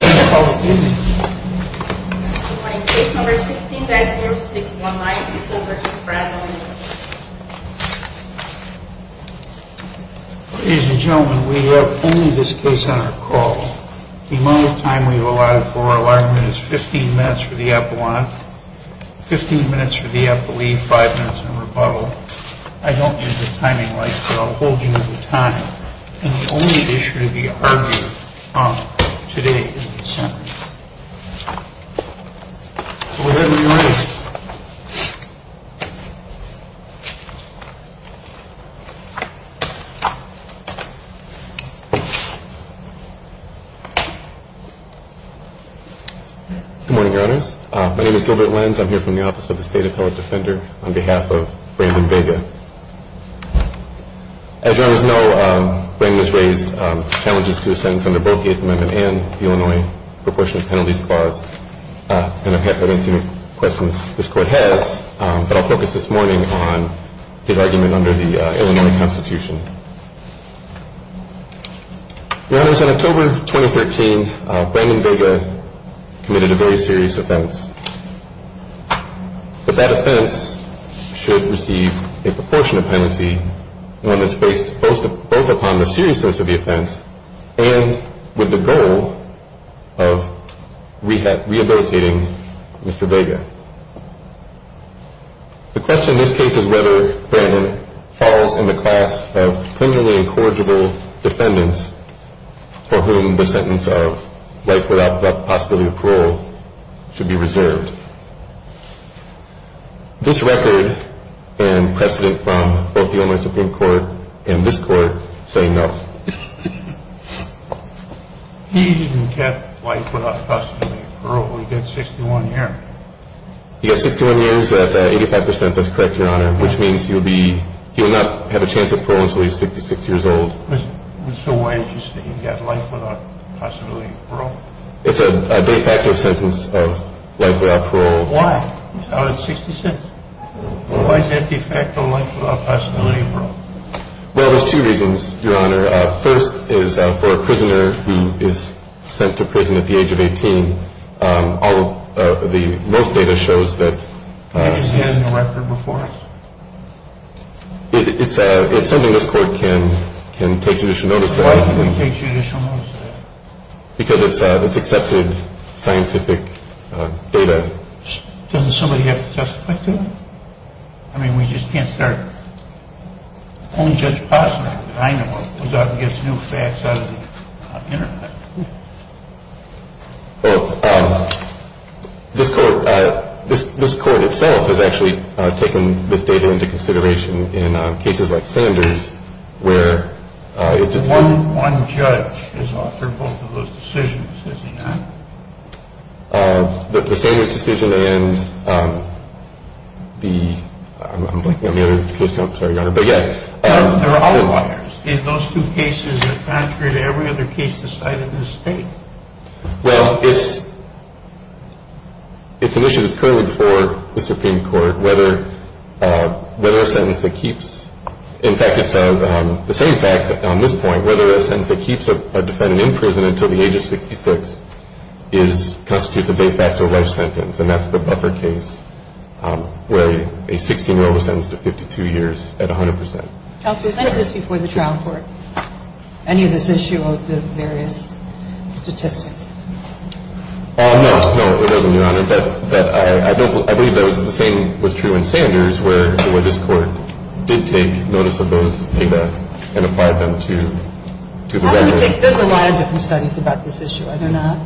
Ladies and gentlemen, we have only this case on our call. The amount of time we have allotted for our Good morning, your honors. My name is Gilbert Lenz. I'm here from the office of the State of Colorado Defender on behalf of Brandon Vega. As your honors know, Brandon has raised challenges to his sentence under both the Eighth Amendment and the Illinois Proportion of Penalties Clause, and I don't see any questions this Court has, but I'll focus this morning on the argument under the Illinois Constitution. Your honors, in October 2013, Brandon Vega committed a very serious offense. But that offense should receive a proportionate penalty, one that's based both upon the seriousness of the offense and with the goal of rehabilitating Mr. Vega. The question in this case is whether Brandon falls in the class of criminally incorrigible defendants for whom the sentence of life without possibility of parole should be reserved. This record and precedent from both the Illinois Supreme Court and this Court say no. He didn't get life without possibility of parole. He got 61 years. He got 61 years at 85 percent. That's correct, your honor, which means he will not have a chance of parole until he's 66 years old. So why did you say he got life without possibility of parole? It's a de facto sentence of life without parole. Why? It's out at 60 cents. Why is that de facto life without possibility of parole? Well, there's two reasons, your honor. First is for a prisoner who is sent to prison at the age of 18. All of the most data shows that it's something this court can take judicial notice of. Why would it take judicial notice of that? Because it's accepted scientific data. Doesn't somebody have to testify to it? I mean, we just can't start. Only Judge Posner, that I know of, goes out and gets new facts out of the Internet. Well, this court, this court itself has actually taken this data into consideration in cases like Sanders where it's. One judge has authored both of those decisions, has he not? The Sanders decision and the, I'm blanking on the other case. I'm sorry, your honor, but yeah. There are other lawyers in those two cases that, contrary to every other case decided in this state. Well, it's, it's an issue that's currently before the Supreme Court, whether, whether a sentence that keeps. In fact, it's the same fact on this point, whether a sentence that keeps a defendant in prison until the age of 66 is, constitutes a de facto life sentence. And that's the buffer case where a 16-year-old was sentenced to 52 years at 100 percent. Counsel, was any of this before the trial court? Any of this issue of the various statistics? No, no, it wasn't, your honor. But, but I, I don't, I believe that was the same was true in Sanders where, where this court did take notice of both data and applied them to, to the record. There's a lot of different studies about this issue, are there not?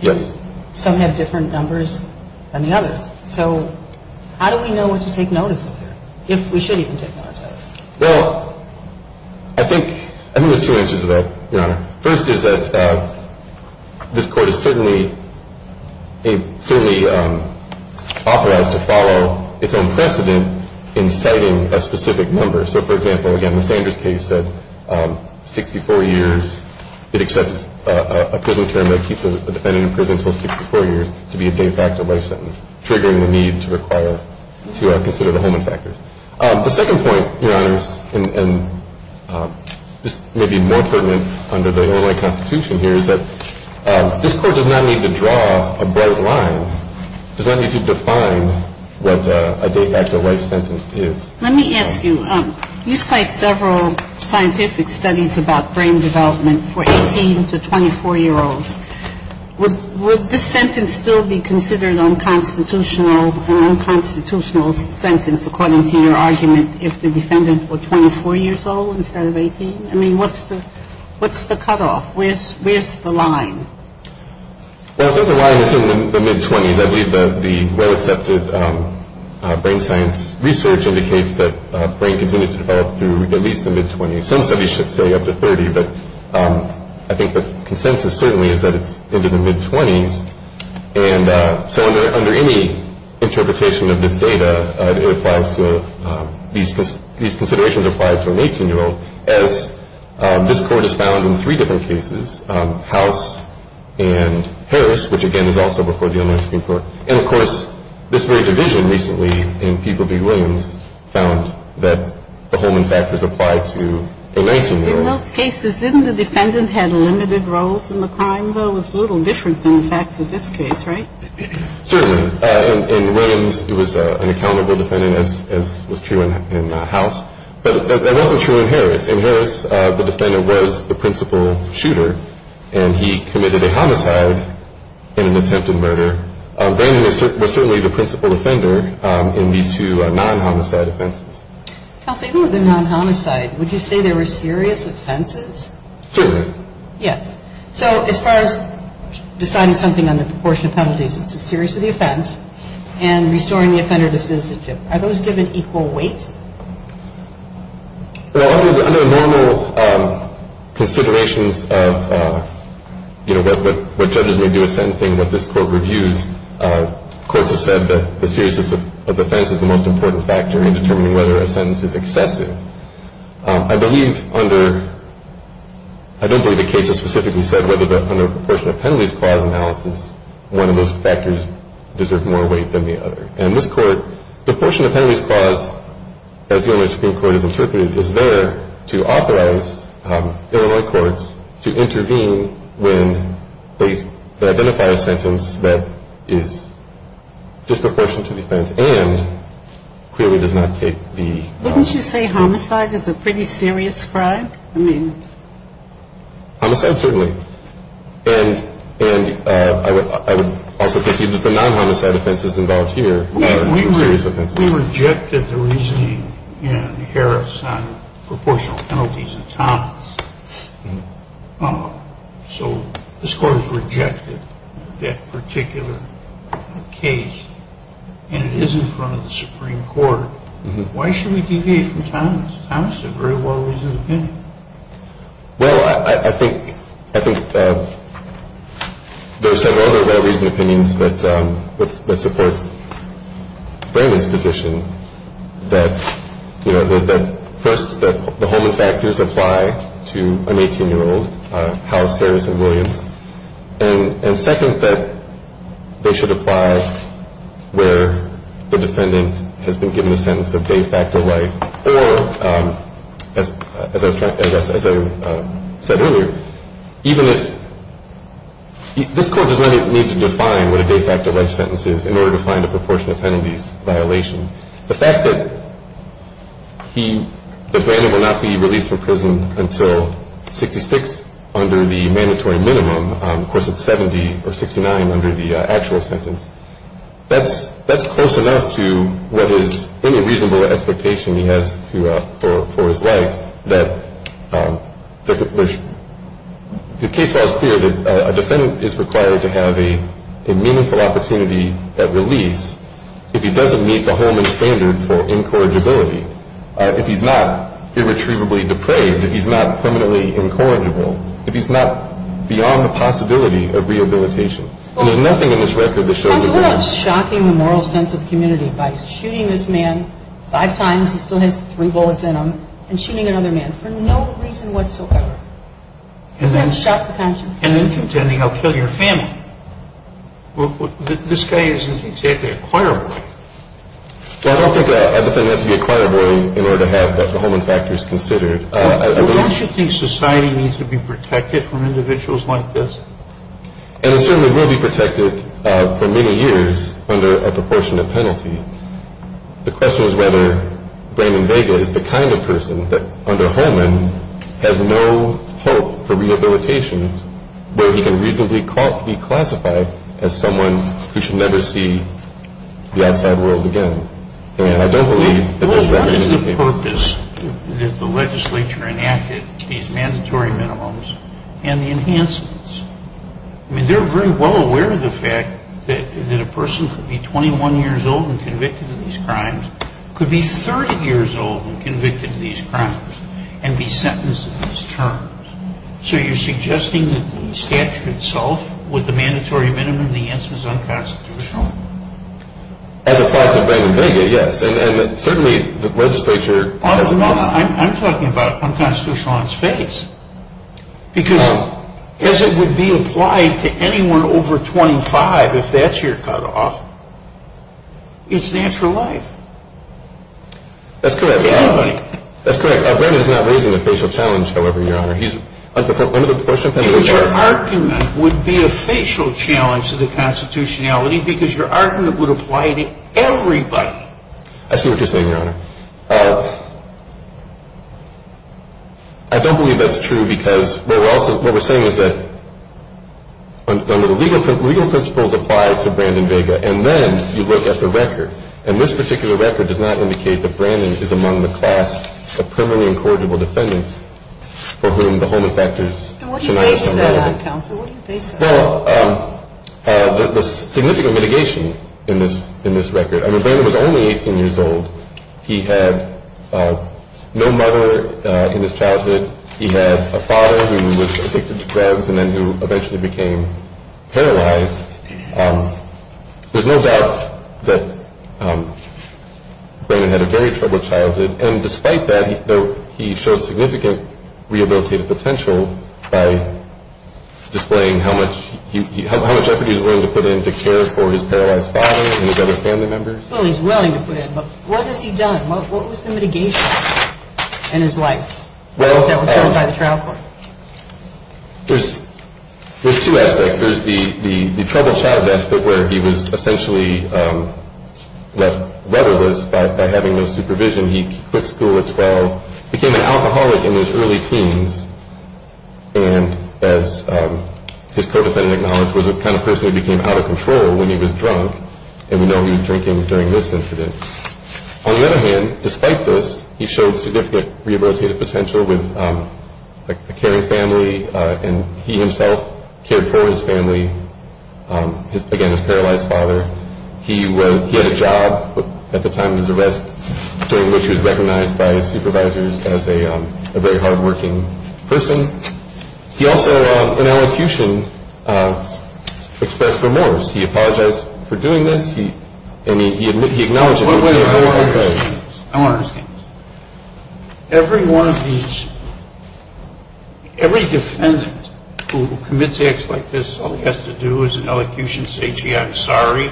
Yes. Some have different numbers than the others. So how do we know what to take notice of here, if we should even take notice of it? Well, I think, I think there's two answers to that, your honor. First is that this court is certainly, certainly authorized to follow its own precedent in citing a specific number. So, for example, again, the Sanders case said 64 years, it accepts a prison term that keeps a defendant in prison until 64 years to be a de facto life sentence, triggering the need to require, to consider the Holman factors. The second point, your honors, and this may be more pertinent under the Olay Constitution here, is that this court does not need to draw a bright line, does not need to define what a de facto life sentence is. Let me ask you, you cite several scientific studies about brain development for 18 to 24-year-olds. Would this sentence still be considered unconstitutional, an unconstitutional sentence, according to your argument, if the defendant were 24 years old instead of 18? I mean, what's the cutoff? Where's the line? Well, the line is in the mid-20s. I believe that the well-accepted brain science research indicates that brain continues to develop through at least the mid-20s. Some studies should say up to 30, but I think the consensus certainly is that it's into the mid-20s. And so under any interpretation of this data, it applies to these considerations applied to an 18-year-old as this court has found in three different cases, House and Harris, which, again, is also before the U.S. Supreme Court. And, of course, this very division recently in People v. Williams found that the Holman factors applied to the Lancer murder. In those cases, didn't the defendant have limited roles in the crime, though, was a little different than the facts of this case, right? Certainly. In Williams, it was an accountable defendant, as was true in House. But that wasn't true in Harris. In Harris, the defendant was the principal shooter, and he committed a homicide in an attempted murder. Brandon was certainly the principal offender in these two non-homicide offenses. Kelsey, who were the non-homicide? Would you say they were serious offenses? Certainly. Yes. So as far as deciding something on the proportion of penalties, it's a serious offense. And restoring the offender to citizenship, are those given equal weight? Well, under normal considerations of, you know, what judges may do in sentencing, what this Court reviews, courts have said that the seriousness of offense is the most important factor in determining whether a sentence is excessive. I believe under — I don't believe the case has specifically said whether under a proportion of penalties clause analysis, one of those factors deserve more weight than the other. And this Court, the proportion of penalties clause, as the Illinois Supreme Court has interpreted, is there to authorize Illinois courts to intervene when they identify a sentence that is disproportionate to defense and clearly does not take the — Wouldn't you say homicide is a pretty serious crime? I mean — Homicide, certainly. And I would also concede that the non-homicide offenses involved here are serious offenses. We rejected the reasoning in Harris on proportional penalties in Thomas. So this Court has rejected that particular case, and it is in front of the Supreme Court. Why should we deviate from Thomas? Thomas did very well raise his opinion. Well, I think there are several other well-raised opinions that support Bramley's position that, you know, first, that the Holman factors apply to an 18-year-old, House, Harris, and Williams, and second, that they should apply where the defendant has been given a sentence of de facto life or, as I said earlier, even if — this Court does not need to define what a de facto life sentence is in order to find a proportion of penalties violation. The fact that he — that Bramley will not be released from prison until 66 under the mandatory minimum, of course, it's 70 or 69 under the actual sentence, that's close enough to what is any reasonable expectation he has for his life that there's — the case law is clear that a defendant is required to have a meaningful opportunity at release if he doesn't meet the Holman standard for incorrigibility, if he's not irretrievably depraved, if he's not permanently incorrigible, if he's not beyond the possibility of rehabilitation. And there's nothing in this record that shows — It's shocking the moral sense of community by shooting this man five times, he still has three bullets in him, and shooting another man for no reason whatsoever. Doesn't that shock the conscience? And then contending, I'll kill your family. This guy isn't exactly a choir boy. I don't think that a defendant has to be a choir boy in order to have the Holman factors considered. Don't you think society needs to be protected from individuals like this? And it certainly will be protected for many years under a proportionate penalty. The question is whether Raymond Vega is the kind of person that under Holman has no hope for rehabilitation, where he can reasonably be classified as someone who should never see the outside world again. And I don't believe that this record — that the legislature enacted these mandatory minimums and the enhancements. I mean, they're very well aware of the fact that a person could be 21 years old and convicted of these crimes, could be 30 years old and convicted of these crimes, and be sentenced to these terms. So you're suggesting that the statute itself, with the mandatory minimum, the answer is unconstitutional? As applies to Raymond Vega, yes. And certainly the legislature — I'm talking about unconstitutional on his face. Because as it would be applied to anyone over 25, if that's your cutoff, it's natural life. That's correct. To anybody. That's correct. Raymond is not raising the facial challenge, however, Your Honor. He's — under the proportionate penalty — Your argument would be a facial challenge to the constitutionality because your argument would apply to everybody. I see what you're saying, Your Honor. I don't believe that's true because what we're saying is that legal principles apply to Brandon Vega. And then you look at the record. And this particular record does not indicate that Brandon is among the class of permanently incorrigible defendants for whom the Holman factors should not have been relevant. And what do you base that on, counsel? What do you base that on? Well, the significant mitigation in this record. I mean, Brandon was only 18 years old. He had no mother in his childhood. He had a father who was addicted to drugs and then who eventually became paralyzed. There's no doubt that Brandon had a very troubled childhood. And despite that, he showed significant rehabilitative potential by displaying how much effort he was willing to put in to care for his paralyzed father and his other family members. Well, he's willing to put in. But what has he done? What was the mitigation in his life that was done by the trial court? There's two aspects. There's the troubled childhood aspect where he was essentially left weatherless by having no supervision. He quit school at 12, became an alcoholic in his early teens. And as his co-defendant acknowledged, was the kind of person who became out of control when he was drunk. And we know he was drinking during this incident. On the other hand, despite this, he showed significant rehabilitative potential with a caring family. And he himself cared for his family, again, his paralyzed father. He had a job at the time of his arrest, during which he was recognized by his supervisors as a very hardworking person. He also, in elocution, expressed remorse. He apologized for doing this. And he acknowledged it. I want to understand this. Every one of these – every defendant who commits acts like this, all he has to do is in elocution say, gee, I'm sorry,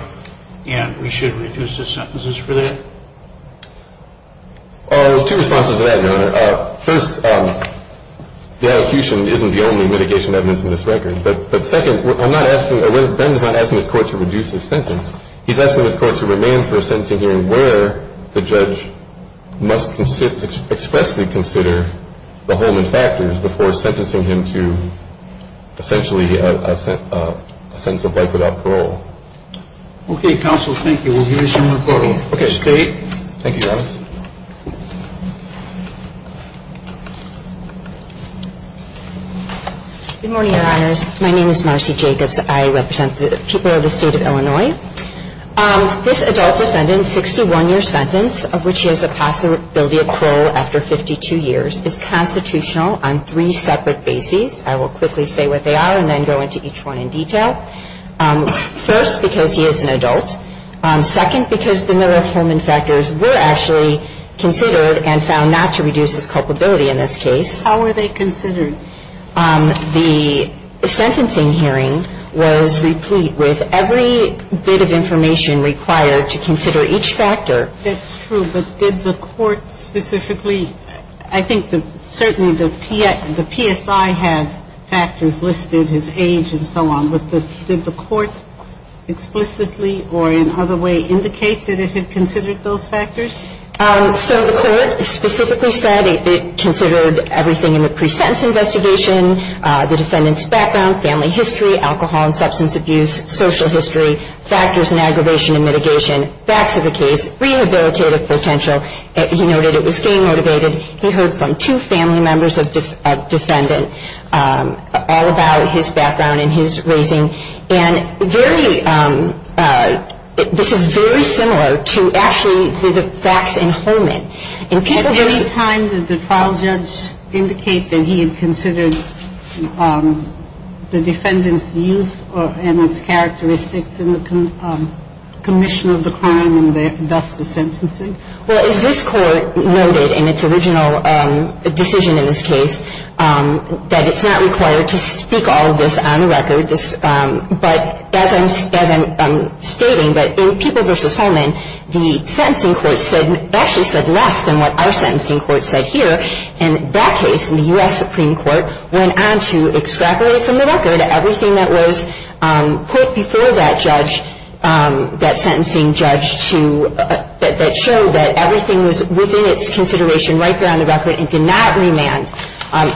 and we should reduce his sentences for that? Two responses to that, Your Honor. First, the elocution isn't the only mitigation evidence in this record. But second, I'm not asking – Ben is not asking his court to reduce his sentence. He's asking his court to remain for a sentencing hearing where the judge must expressly consider the Holman factors before sentencing him to essentially a sentence of life without parole. Okay, counsel, thank you. We'll give you some more time. State. Thank you, Your Honor. Good morning, Your Honors. My name is Marcy Jacobs. I represent the people of the State of Illinois. This adult defendant, 61-year sentence, of which he has a possibility of parole after 52 years, is constitutional on three separate bases. I will quickly say what they are and then go into each one in detail. First, because he is an adult. Second, because the Miller-Holman factors were actually considered and found not to reduce his culpability in this case. How were they considered? The sentencing hearing was replete with every bit of information required to consider each factor. That's true. But did the court specifically – I think certainly the PSI had factors listed, his age and so on. But did the court explicitly or in other way indicate that it had considered those factors? So the court specifically said it considered everything in the pre-sentence investigation, the defendant's background, family history, alcohol and substance abuse, social history, factors in aggravation and mitigation, facts of the case, rehabilitative potential. He noted it was game-motivated. He heard from two family members of a defendant all about his background and his raising. And very – this is very similar to actually the facts in Holman. At any time did the trial judge indicate that he had considered the defendant's youth and its characteristics in the commission of the crime and thus the sentencing? Well, as this court noted in its original decision in this case, that it's not required to speak all of this on the record. But as I'm stating, that in People v. Holman, the sentencing court said – actually said less than what our sentencing court said here. In that case, the U.S. Supreme Court went on to extract away from the record everything that was put before that judge, that sentencing judge, that showed that everything was within its consideration right there on the record and did not remand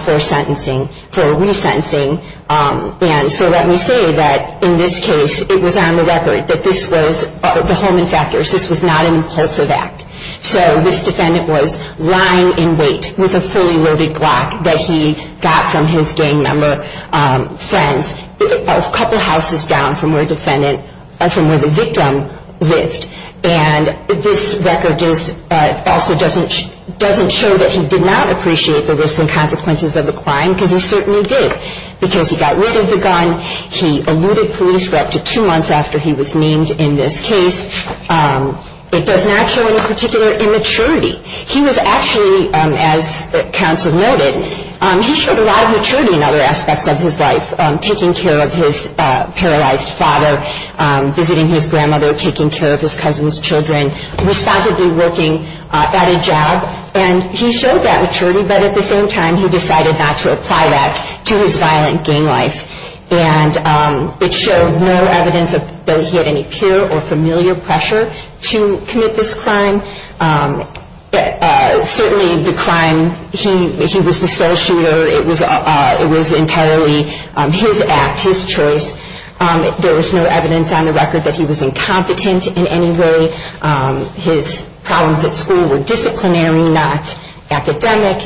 for sentencing – for resentencing. And so let me say that in this case, it was on the record that this was – the Holman factors, this was not an impulsive act. So this defendant was lying in wait with a fully loaded Glock that he got from his gang member friends a couple houses down from where the victim lived. And this record is – also doesn't show that he did not appreciate the risks and consequences of the crime because he certainly did. Because he got rid of the gun. He eluded police for up to two months after he was named in this case. It does not show any particular immaturity. He was actually, as counsel noted, he showed a lot of maturity in other aspects of his life, taking care of his paralyzed father, visiting his grandmother, taking care of his cousin's children, responsibly working at a job. And he showed that maturity, but at the same time he decided not to apply that to his violent gang life. And it showed no evidence that he had any peer or familiar pressure to commit this crime. Certainly the crime – he was the sole shooter. It was entirely his act, his choice. There was no evidence on the record that he was incompetent in any way. His problems at school were disciplinary, not academic.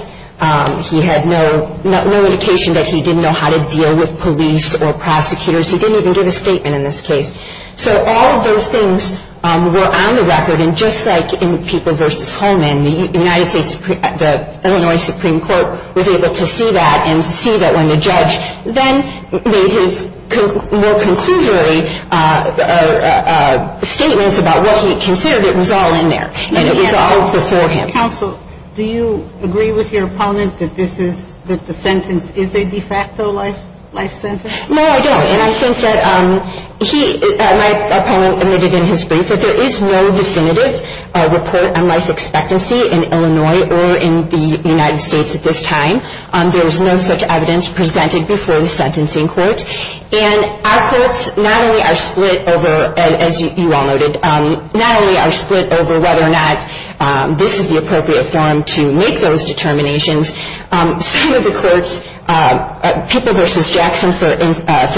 He had no indication that he didn't know how to deal with police or prosecutors. He didn't even give a statement in this case. So all of those things were on the record. And just like in People v. Holman, the United States – the Illinois Supreme Court was able to see that and see that when the judge then made his more conclusory statements about what he considered, it was all in there and it was all before him. Counsel, do you agree with your opponent that this is – that the sentence is a de facto life sentence? No, I don't. And I think that he – my opponent admitted in his brief that there is no definitive report on life expectancy in Illinois or in the United States at this time. There was no such evidence presented before the sentencing court. And our courts not only are split over, as you all noted, not only are split over whether or not this is the appropriate forum to make those determinations, some of the courts – People v. Jackson, for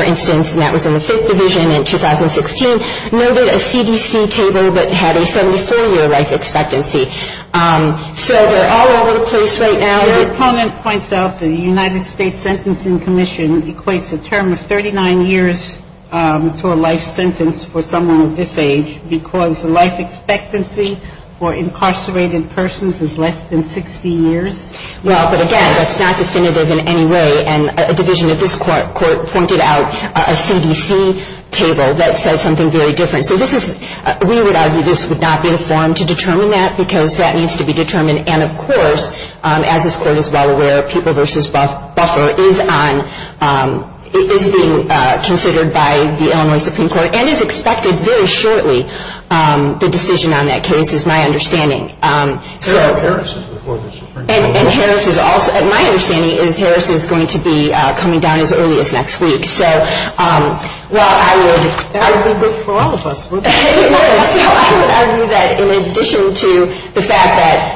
instance, and that was in the Fifth Division in 2016, noted a CDC table that had a 74-year life expectancy. So they're all over the place right now. Your opponent points out the United States Sentencing Commission equates a term of 39 years to a life sentence for someone of this age because the life expectancy for incarcerated persons is less than 60 years? Well, but again, that's not definitive in any way. And a division of this court pointed out a CDC table that says something very different. So this is – we would argue this would not be a forum to determine that because that needs to be determined. And, of course, as this court is well aware, People v. Buffer is on – is being considered by the Illinois Supreme Court and is expected very shortly. The decision on that case is my understanding. Harris is the Court of the Supreme Court. And Harris is also – my understanding is Harris is going to be coming down as early as next week. So while I would – That would be good for all of us. So I would argue that in addition to the fact that,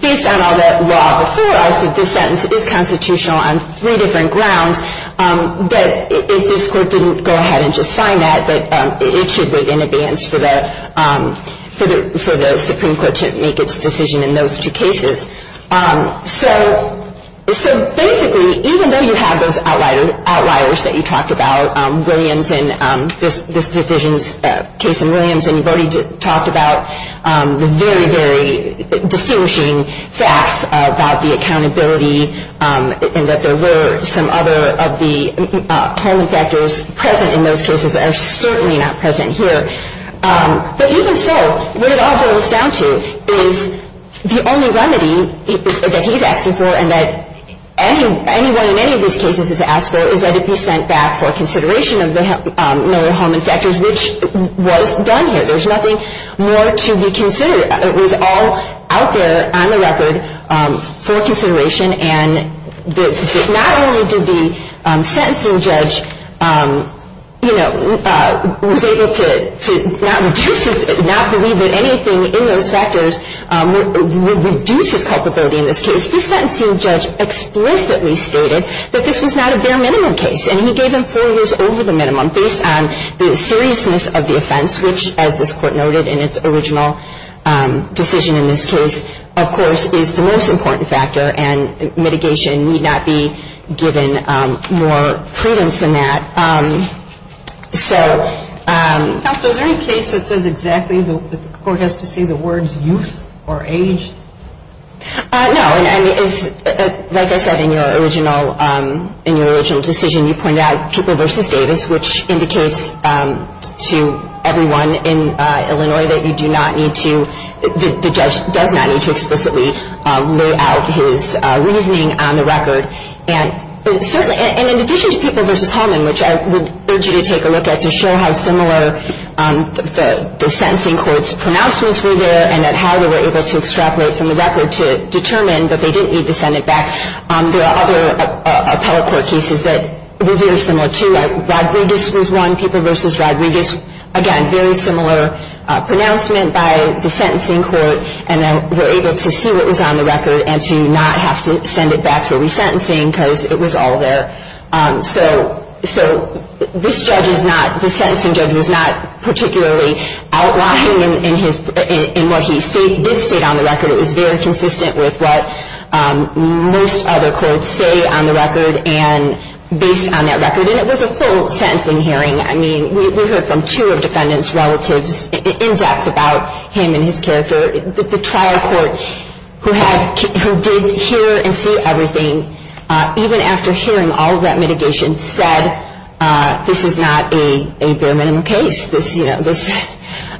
based on all that law before us, that this sentence is constitutional on three different grounds, that if this court didn't go ahead and just find that, that it should wait in advance for the Supreme Court to make its decision in those two cases. So basically, even though you have those outliers that you talked about, Williams and – this division's case in Williams, and you've already talked about the very, very distinguishing facts about the accountability and that there were some other of the polling factors present in those cases that are certainly not present here. But even so, what it all boils down to is the only remedy that he's asking for and that anyone in any of these cases has asked for is that it be sent back for consideration of the Miller-Holman factors, which was done here. There's nothing more to be considered. It was all out there on the record for consideration. And not only did the sentencing judge, you know, was able to not reduce his – not believe that anything in those factors would reduce his culpability in this case. The sentencing judge explicitly stated that this was not a bare minimum case, and he gave him four years over the minimum based on the seriousness of the offense, which, as this Court noted in its original decision in this case, of course is the most important factor, and mitigation need not be given more credence than that. So – Counsel, is there any case that says exactly that the Court has to say the words No. Like I said in your original decision, you pointed out People v. Davis, which indicates to everyone in Illinois that you do not need to – the judge does not need to explicitly lay out his reasoning on the record. And in addition to People v. Holman, which I would urge you to take a look at to show how similar the sentencing court's pronouncements were there and that how they were able to extrapolate from the record to determine that they didn't need to send it back, there are other appellate court cases that were very similar too. Rodriguez was one, People v. Rodriguez. Again, very similar pronouncement by the sentencing court, and they were able to see what was on the record and to not have to send it back for resentencing because it was all there. So this judge is not – the sentencing judge was not particularly outlined in what he did state on the record. It was very consistent with what most other courts say on the record and based on that record. And it was a full sentencing hearing. I mean, we heard from two of defendants' relatives in depth about him and his character. The trial court who did hear and see everything, even after hearing all of that mitigation, said this is not a bare minimum case. This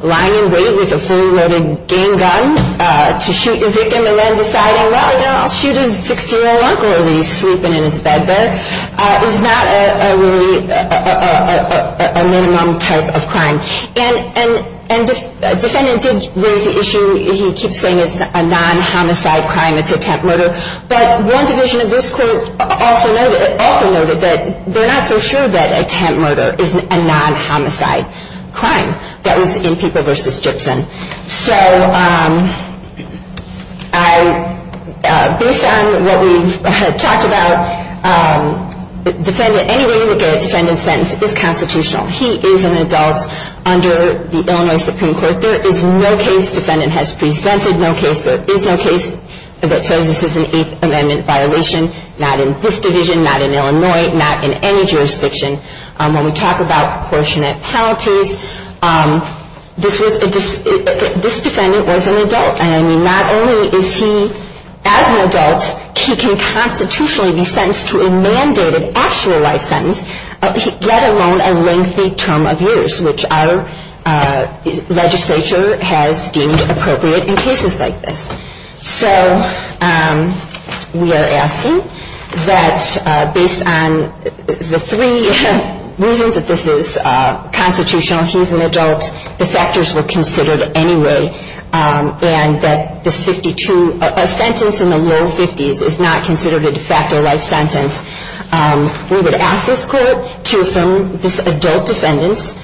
lying in wait with a fully loaded gang gun to shoot your victim and then deciding, well, you know, I'll shoot his 60-year-old uncle while he's sleeping in his bed there is not really a minimum type of crime. And the defendant did raise the issue. He keeps saying it's a non-homicide crime, it's a temp murder. But one division of this court also noted that they're not so sure that a temp murder is a non-homicide crime. That was in Peeper v. Gibson. So based on what we've talked about, any way you look at a defendant's sentence is constitutional. He is an adult under the Illinois Supreme Court. There is no case defendant has presented, no case there is no case that says this is an Eighth Amendment violation, not in this division, not in Illinois, not in any jurisdiction. When we talk about proportionate penalties, this defendant was an adult. And, I mean, not only is he, as an adult, he can constitutionally be sentenced to a mandated actual life sentence, let alone a lengthy term of years, which our legislature has deemed appropriate in cases like this. So we are asking that based on the three reasons that this is constitutional, he's an adult, the factors were considered anyway, and that this 52, a sentence in the low 50s, is not considered a de facto life sentence. We would ask this Court to affirm this adult defendant's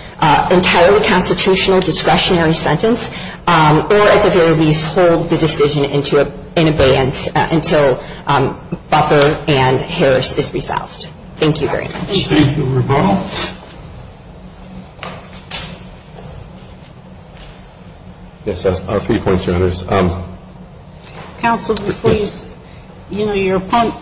entirely constitutional discretionary sentence, or at the very least, hold the decision in abeyance until Buffer and Harris is resolved. Thank you very much. Thank you. Yes, I have three points, Your Honors. Counsel, before you, you know,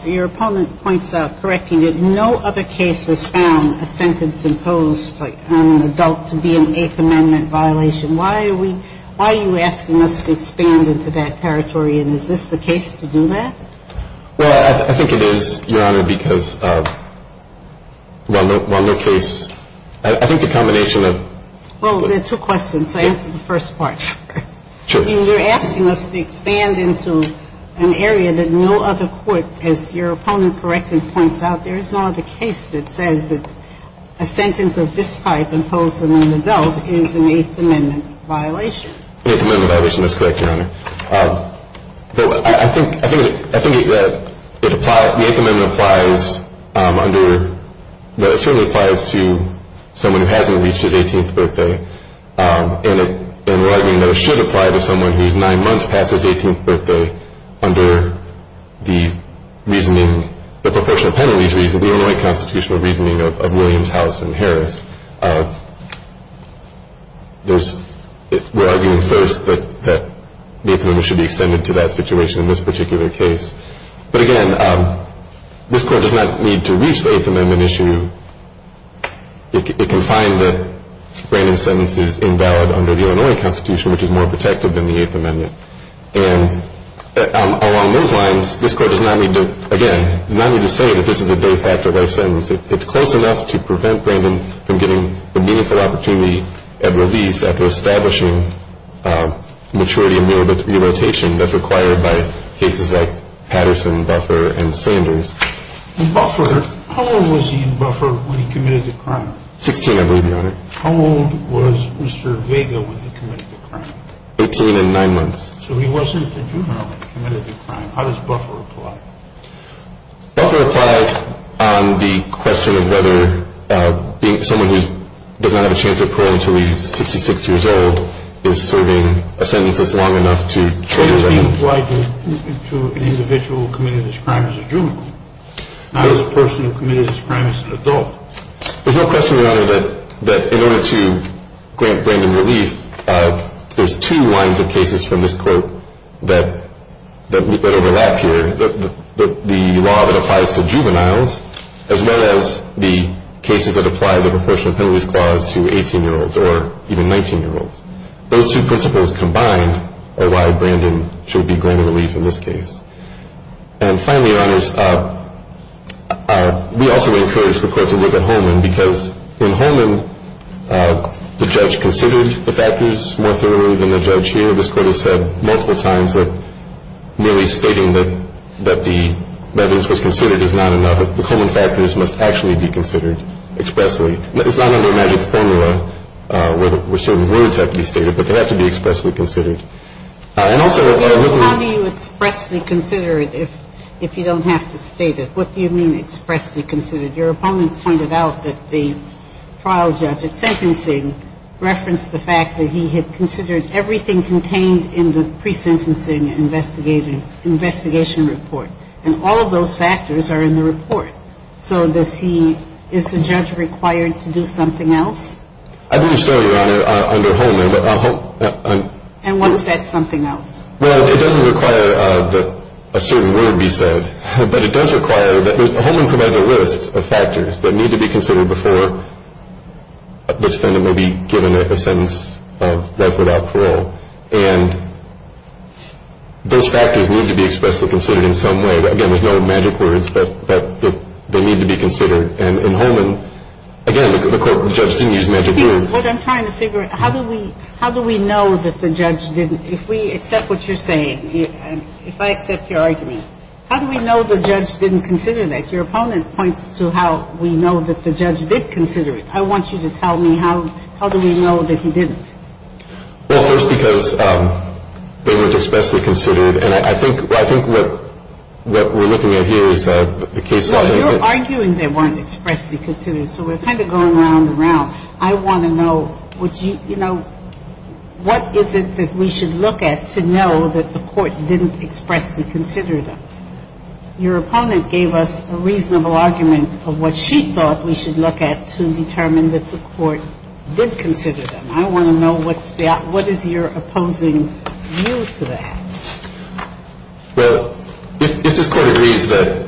your opponent points out, correcting it, no other case has found a sentence imposed on an adult to be an Eighth Amendment violation. Why are we, why are you asking us to expand into that territory, and is this the case to do that? Well, I think it is, Your Honor, because while no case, I think the combination of. Well, there are two questions, so answer the first part first. Sure. I mean, you're asking us to expand into an area that no other court, as your opponent correctly points out, there is no other case that says that a sentence of this type imposed on an adult is an Eighth Amendment violation. An Eighth Amendment violation, that's correct, Your Honor. But I think, I think, I think that it applies, the Eighth Amendment applies under, that it certainly applies to someone who hasn't reached his 18th birthday, and we're arguing that it should apply to someone who's nine months past his 18th birthday under the reasoning, the proportional penalties reasoning, the Illinois constitutional reasoning of Williams, House, and Harris. There's, we're arguing first that the Eighth Amendment should be extended to that situation in this particular case. But again, this Court does not need to reach the Eighth Amendment issue. It can find that Brandon's sentence is invalid under the Illinois Constitution, which is more protective than the Eighth Amendment. And along those lines, this Court does not need to, again, does not need to say that this is a de facto life sentence. It's close enough to prevent Brandon from getting the meaningful opportunity at release after establishing maturity and mere irritation that's required by cases like Patterson, Buffer, and Sanders. In Buffer, how old was he in Buffer when he committed the crime? Sixteen, I believe, Your Honor. How old was Mr. Vega when he committed the crime? Eighteen and nine months. So he wasn't a juvenile when he committed the crime. How does Buffer apply? Buffer applies on the question of whether someone who does not have a chance of parole until he's 66 years old is serving a sentence that's long enough to trail him. Does he apply to an individual who committed this crime as a juvenile, not as a person who committed this crime as an adult? There's no question, Your Honor, that in order to grant Brandon relief, there's two lines of cases from this Court that overlap here, the law that applies to juveniles as well as the cases that apply the proportional penalties clause to 18-year-olds or even 19-year-olds. Those two principles combined are why Brandon should be granted relief in this case. And finally, Your Honors, we also encourage the Court to look at Holman because in Holman the judge considered the factors more thoroughly than the judge here. This Court has said multiple times that merely stating that the evidence was considered is not enough. The Holman factors must actually be considered expressly. It's not under a magic formula where certain words have to be stated, but they have to be expressly considered. And also, what I'm looking at here is the fact that he had considered everything contained in the pre-sentencing investigation report. And all of those factors are in the report. So is the judge required to do something else? I believe so, Your Honor, under Holman. And what's that something else? Well, it doesn't require that a certain word be said, but it does require that Holman provides a list of factors that need to be considered before the defendant will be given a sentence of life without parole. And those factors need to be expressly considered in some way. Again, there's no magic words, but they need to be considered. And in Holman, again, the judge didn't use magic words. Here's what I'm trying to figure out. How do we know that the judge didn't? If we accept what you're saying, if I accept your argument, how do we know the judge didn't consider that? Your opponent points to how we know that the judge did consider it. I want you to tell me how do we know that he didn't? Well, first, because they were expressly considered. And I think what we're looking at here is the case law. No, you're arguing they weren't expressly considered, so we're kind of going round and round. I want to know, you know, what is it that we should look at to know that the court didn't expressly consider them? Your opponent gave us a reasonable argument of what she thought we should look at to determine that the court did consider them. I want to know what is your opposing view to that. Well, if this court agrees that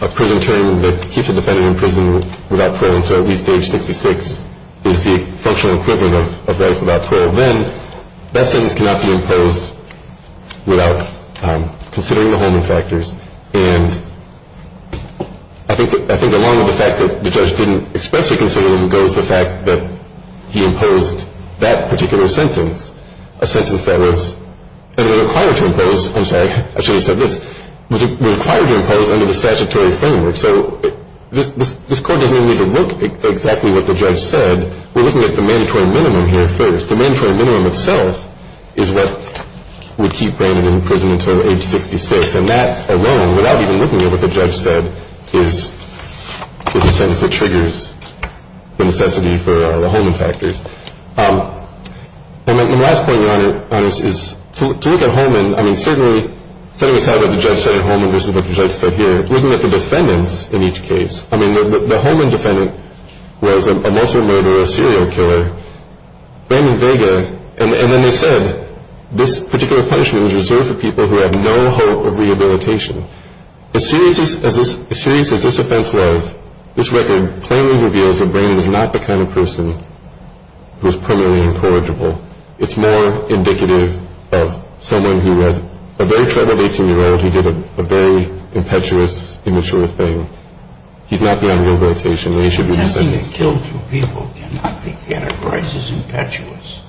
a prison term that keeps a defendant in prison without parole until at least age 66 is the functional equivalent of life without parole, then that sentence cannot be imposed without considering the Holman factors. And I think along with the fact that the judge didn't expressly consider them goes the fact that he imposed that particular sentence, a sentence that was required to impose under the statutory framework. So this court doesn't even need to look at exactly what the judge said. We're looking at the mandatory minimum here first. The mandatory minimum itself is what would keep Brandon in prison until age 66. And that alone, without even looking at what the judge said, is a sentence that triggers the necessity for the Holman factors. And my last point, Your Honor, is to look at Holman, I mean certainly setting aside what the judge said at Holman versus what the judge said here, looking at the defendants in each case, I mean the Holman defendant was a murderer, a serial killer, Brandon Vega, and then they said this particular punishment was reserved for people who have no hope of rehabilitation. As serious as this offense was, this record plainly reveals that Brandon is not the kind of person who is primarily incorrigible. It's more indicative of someone who has a very tremendous age, who did a very impetuous, immature thing. He's not beyond rehabilitation, and he should be sentenced. Attempting to kill two people cannot be categorized as impetuous.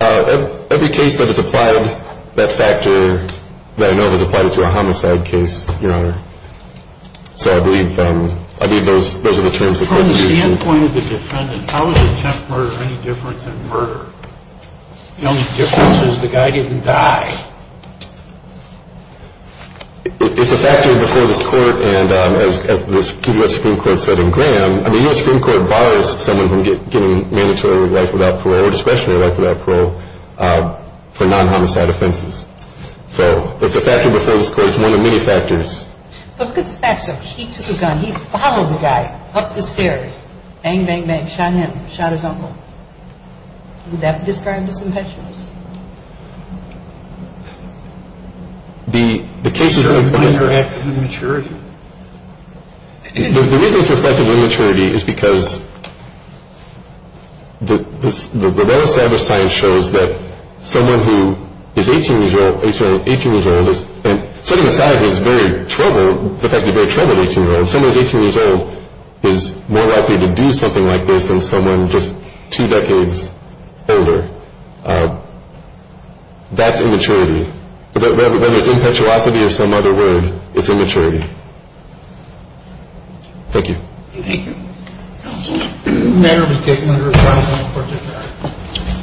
Every case that is applied, that factor that I know was applied to a homicide case, Your Honor. So I believe those are the terms the court is using. From the standpoint of the defendant, how is attempt murder any different than murder? The only difference is the guy didn't die. It's a factor before this court, and as the U.S. Supreme Court said in Graham, the U.S. Supreme Court bars someone from getting mandatory life without parole, or discretionary life without parole, for non-homicide offenses. So it's a factor before this court. It's one of many factors. But look at the facts of it. He took a gun. He followed the guy up the stairs. Bang, bang, bang. Shot him. Shot his uncle. Would that describe as impetuous? The case is really fine. You're under active immaturity. The reason it's reflective of immaturity is because the well-established science shows that someone who is 18 years old, sorry, 18 years old, and setting aside the fact that he's a very troubled 18-year-old, someone who's 18 years old is more likely to do something like this than someone just two decades older. That's immaturity. Whether it's impetuosity or some other word, it's immaturity. Thank you. Thank you. Counsel? The matter has been taken under a final court order.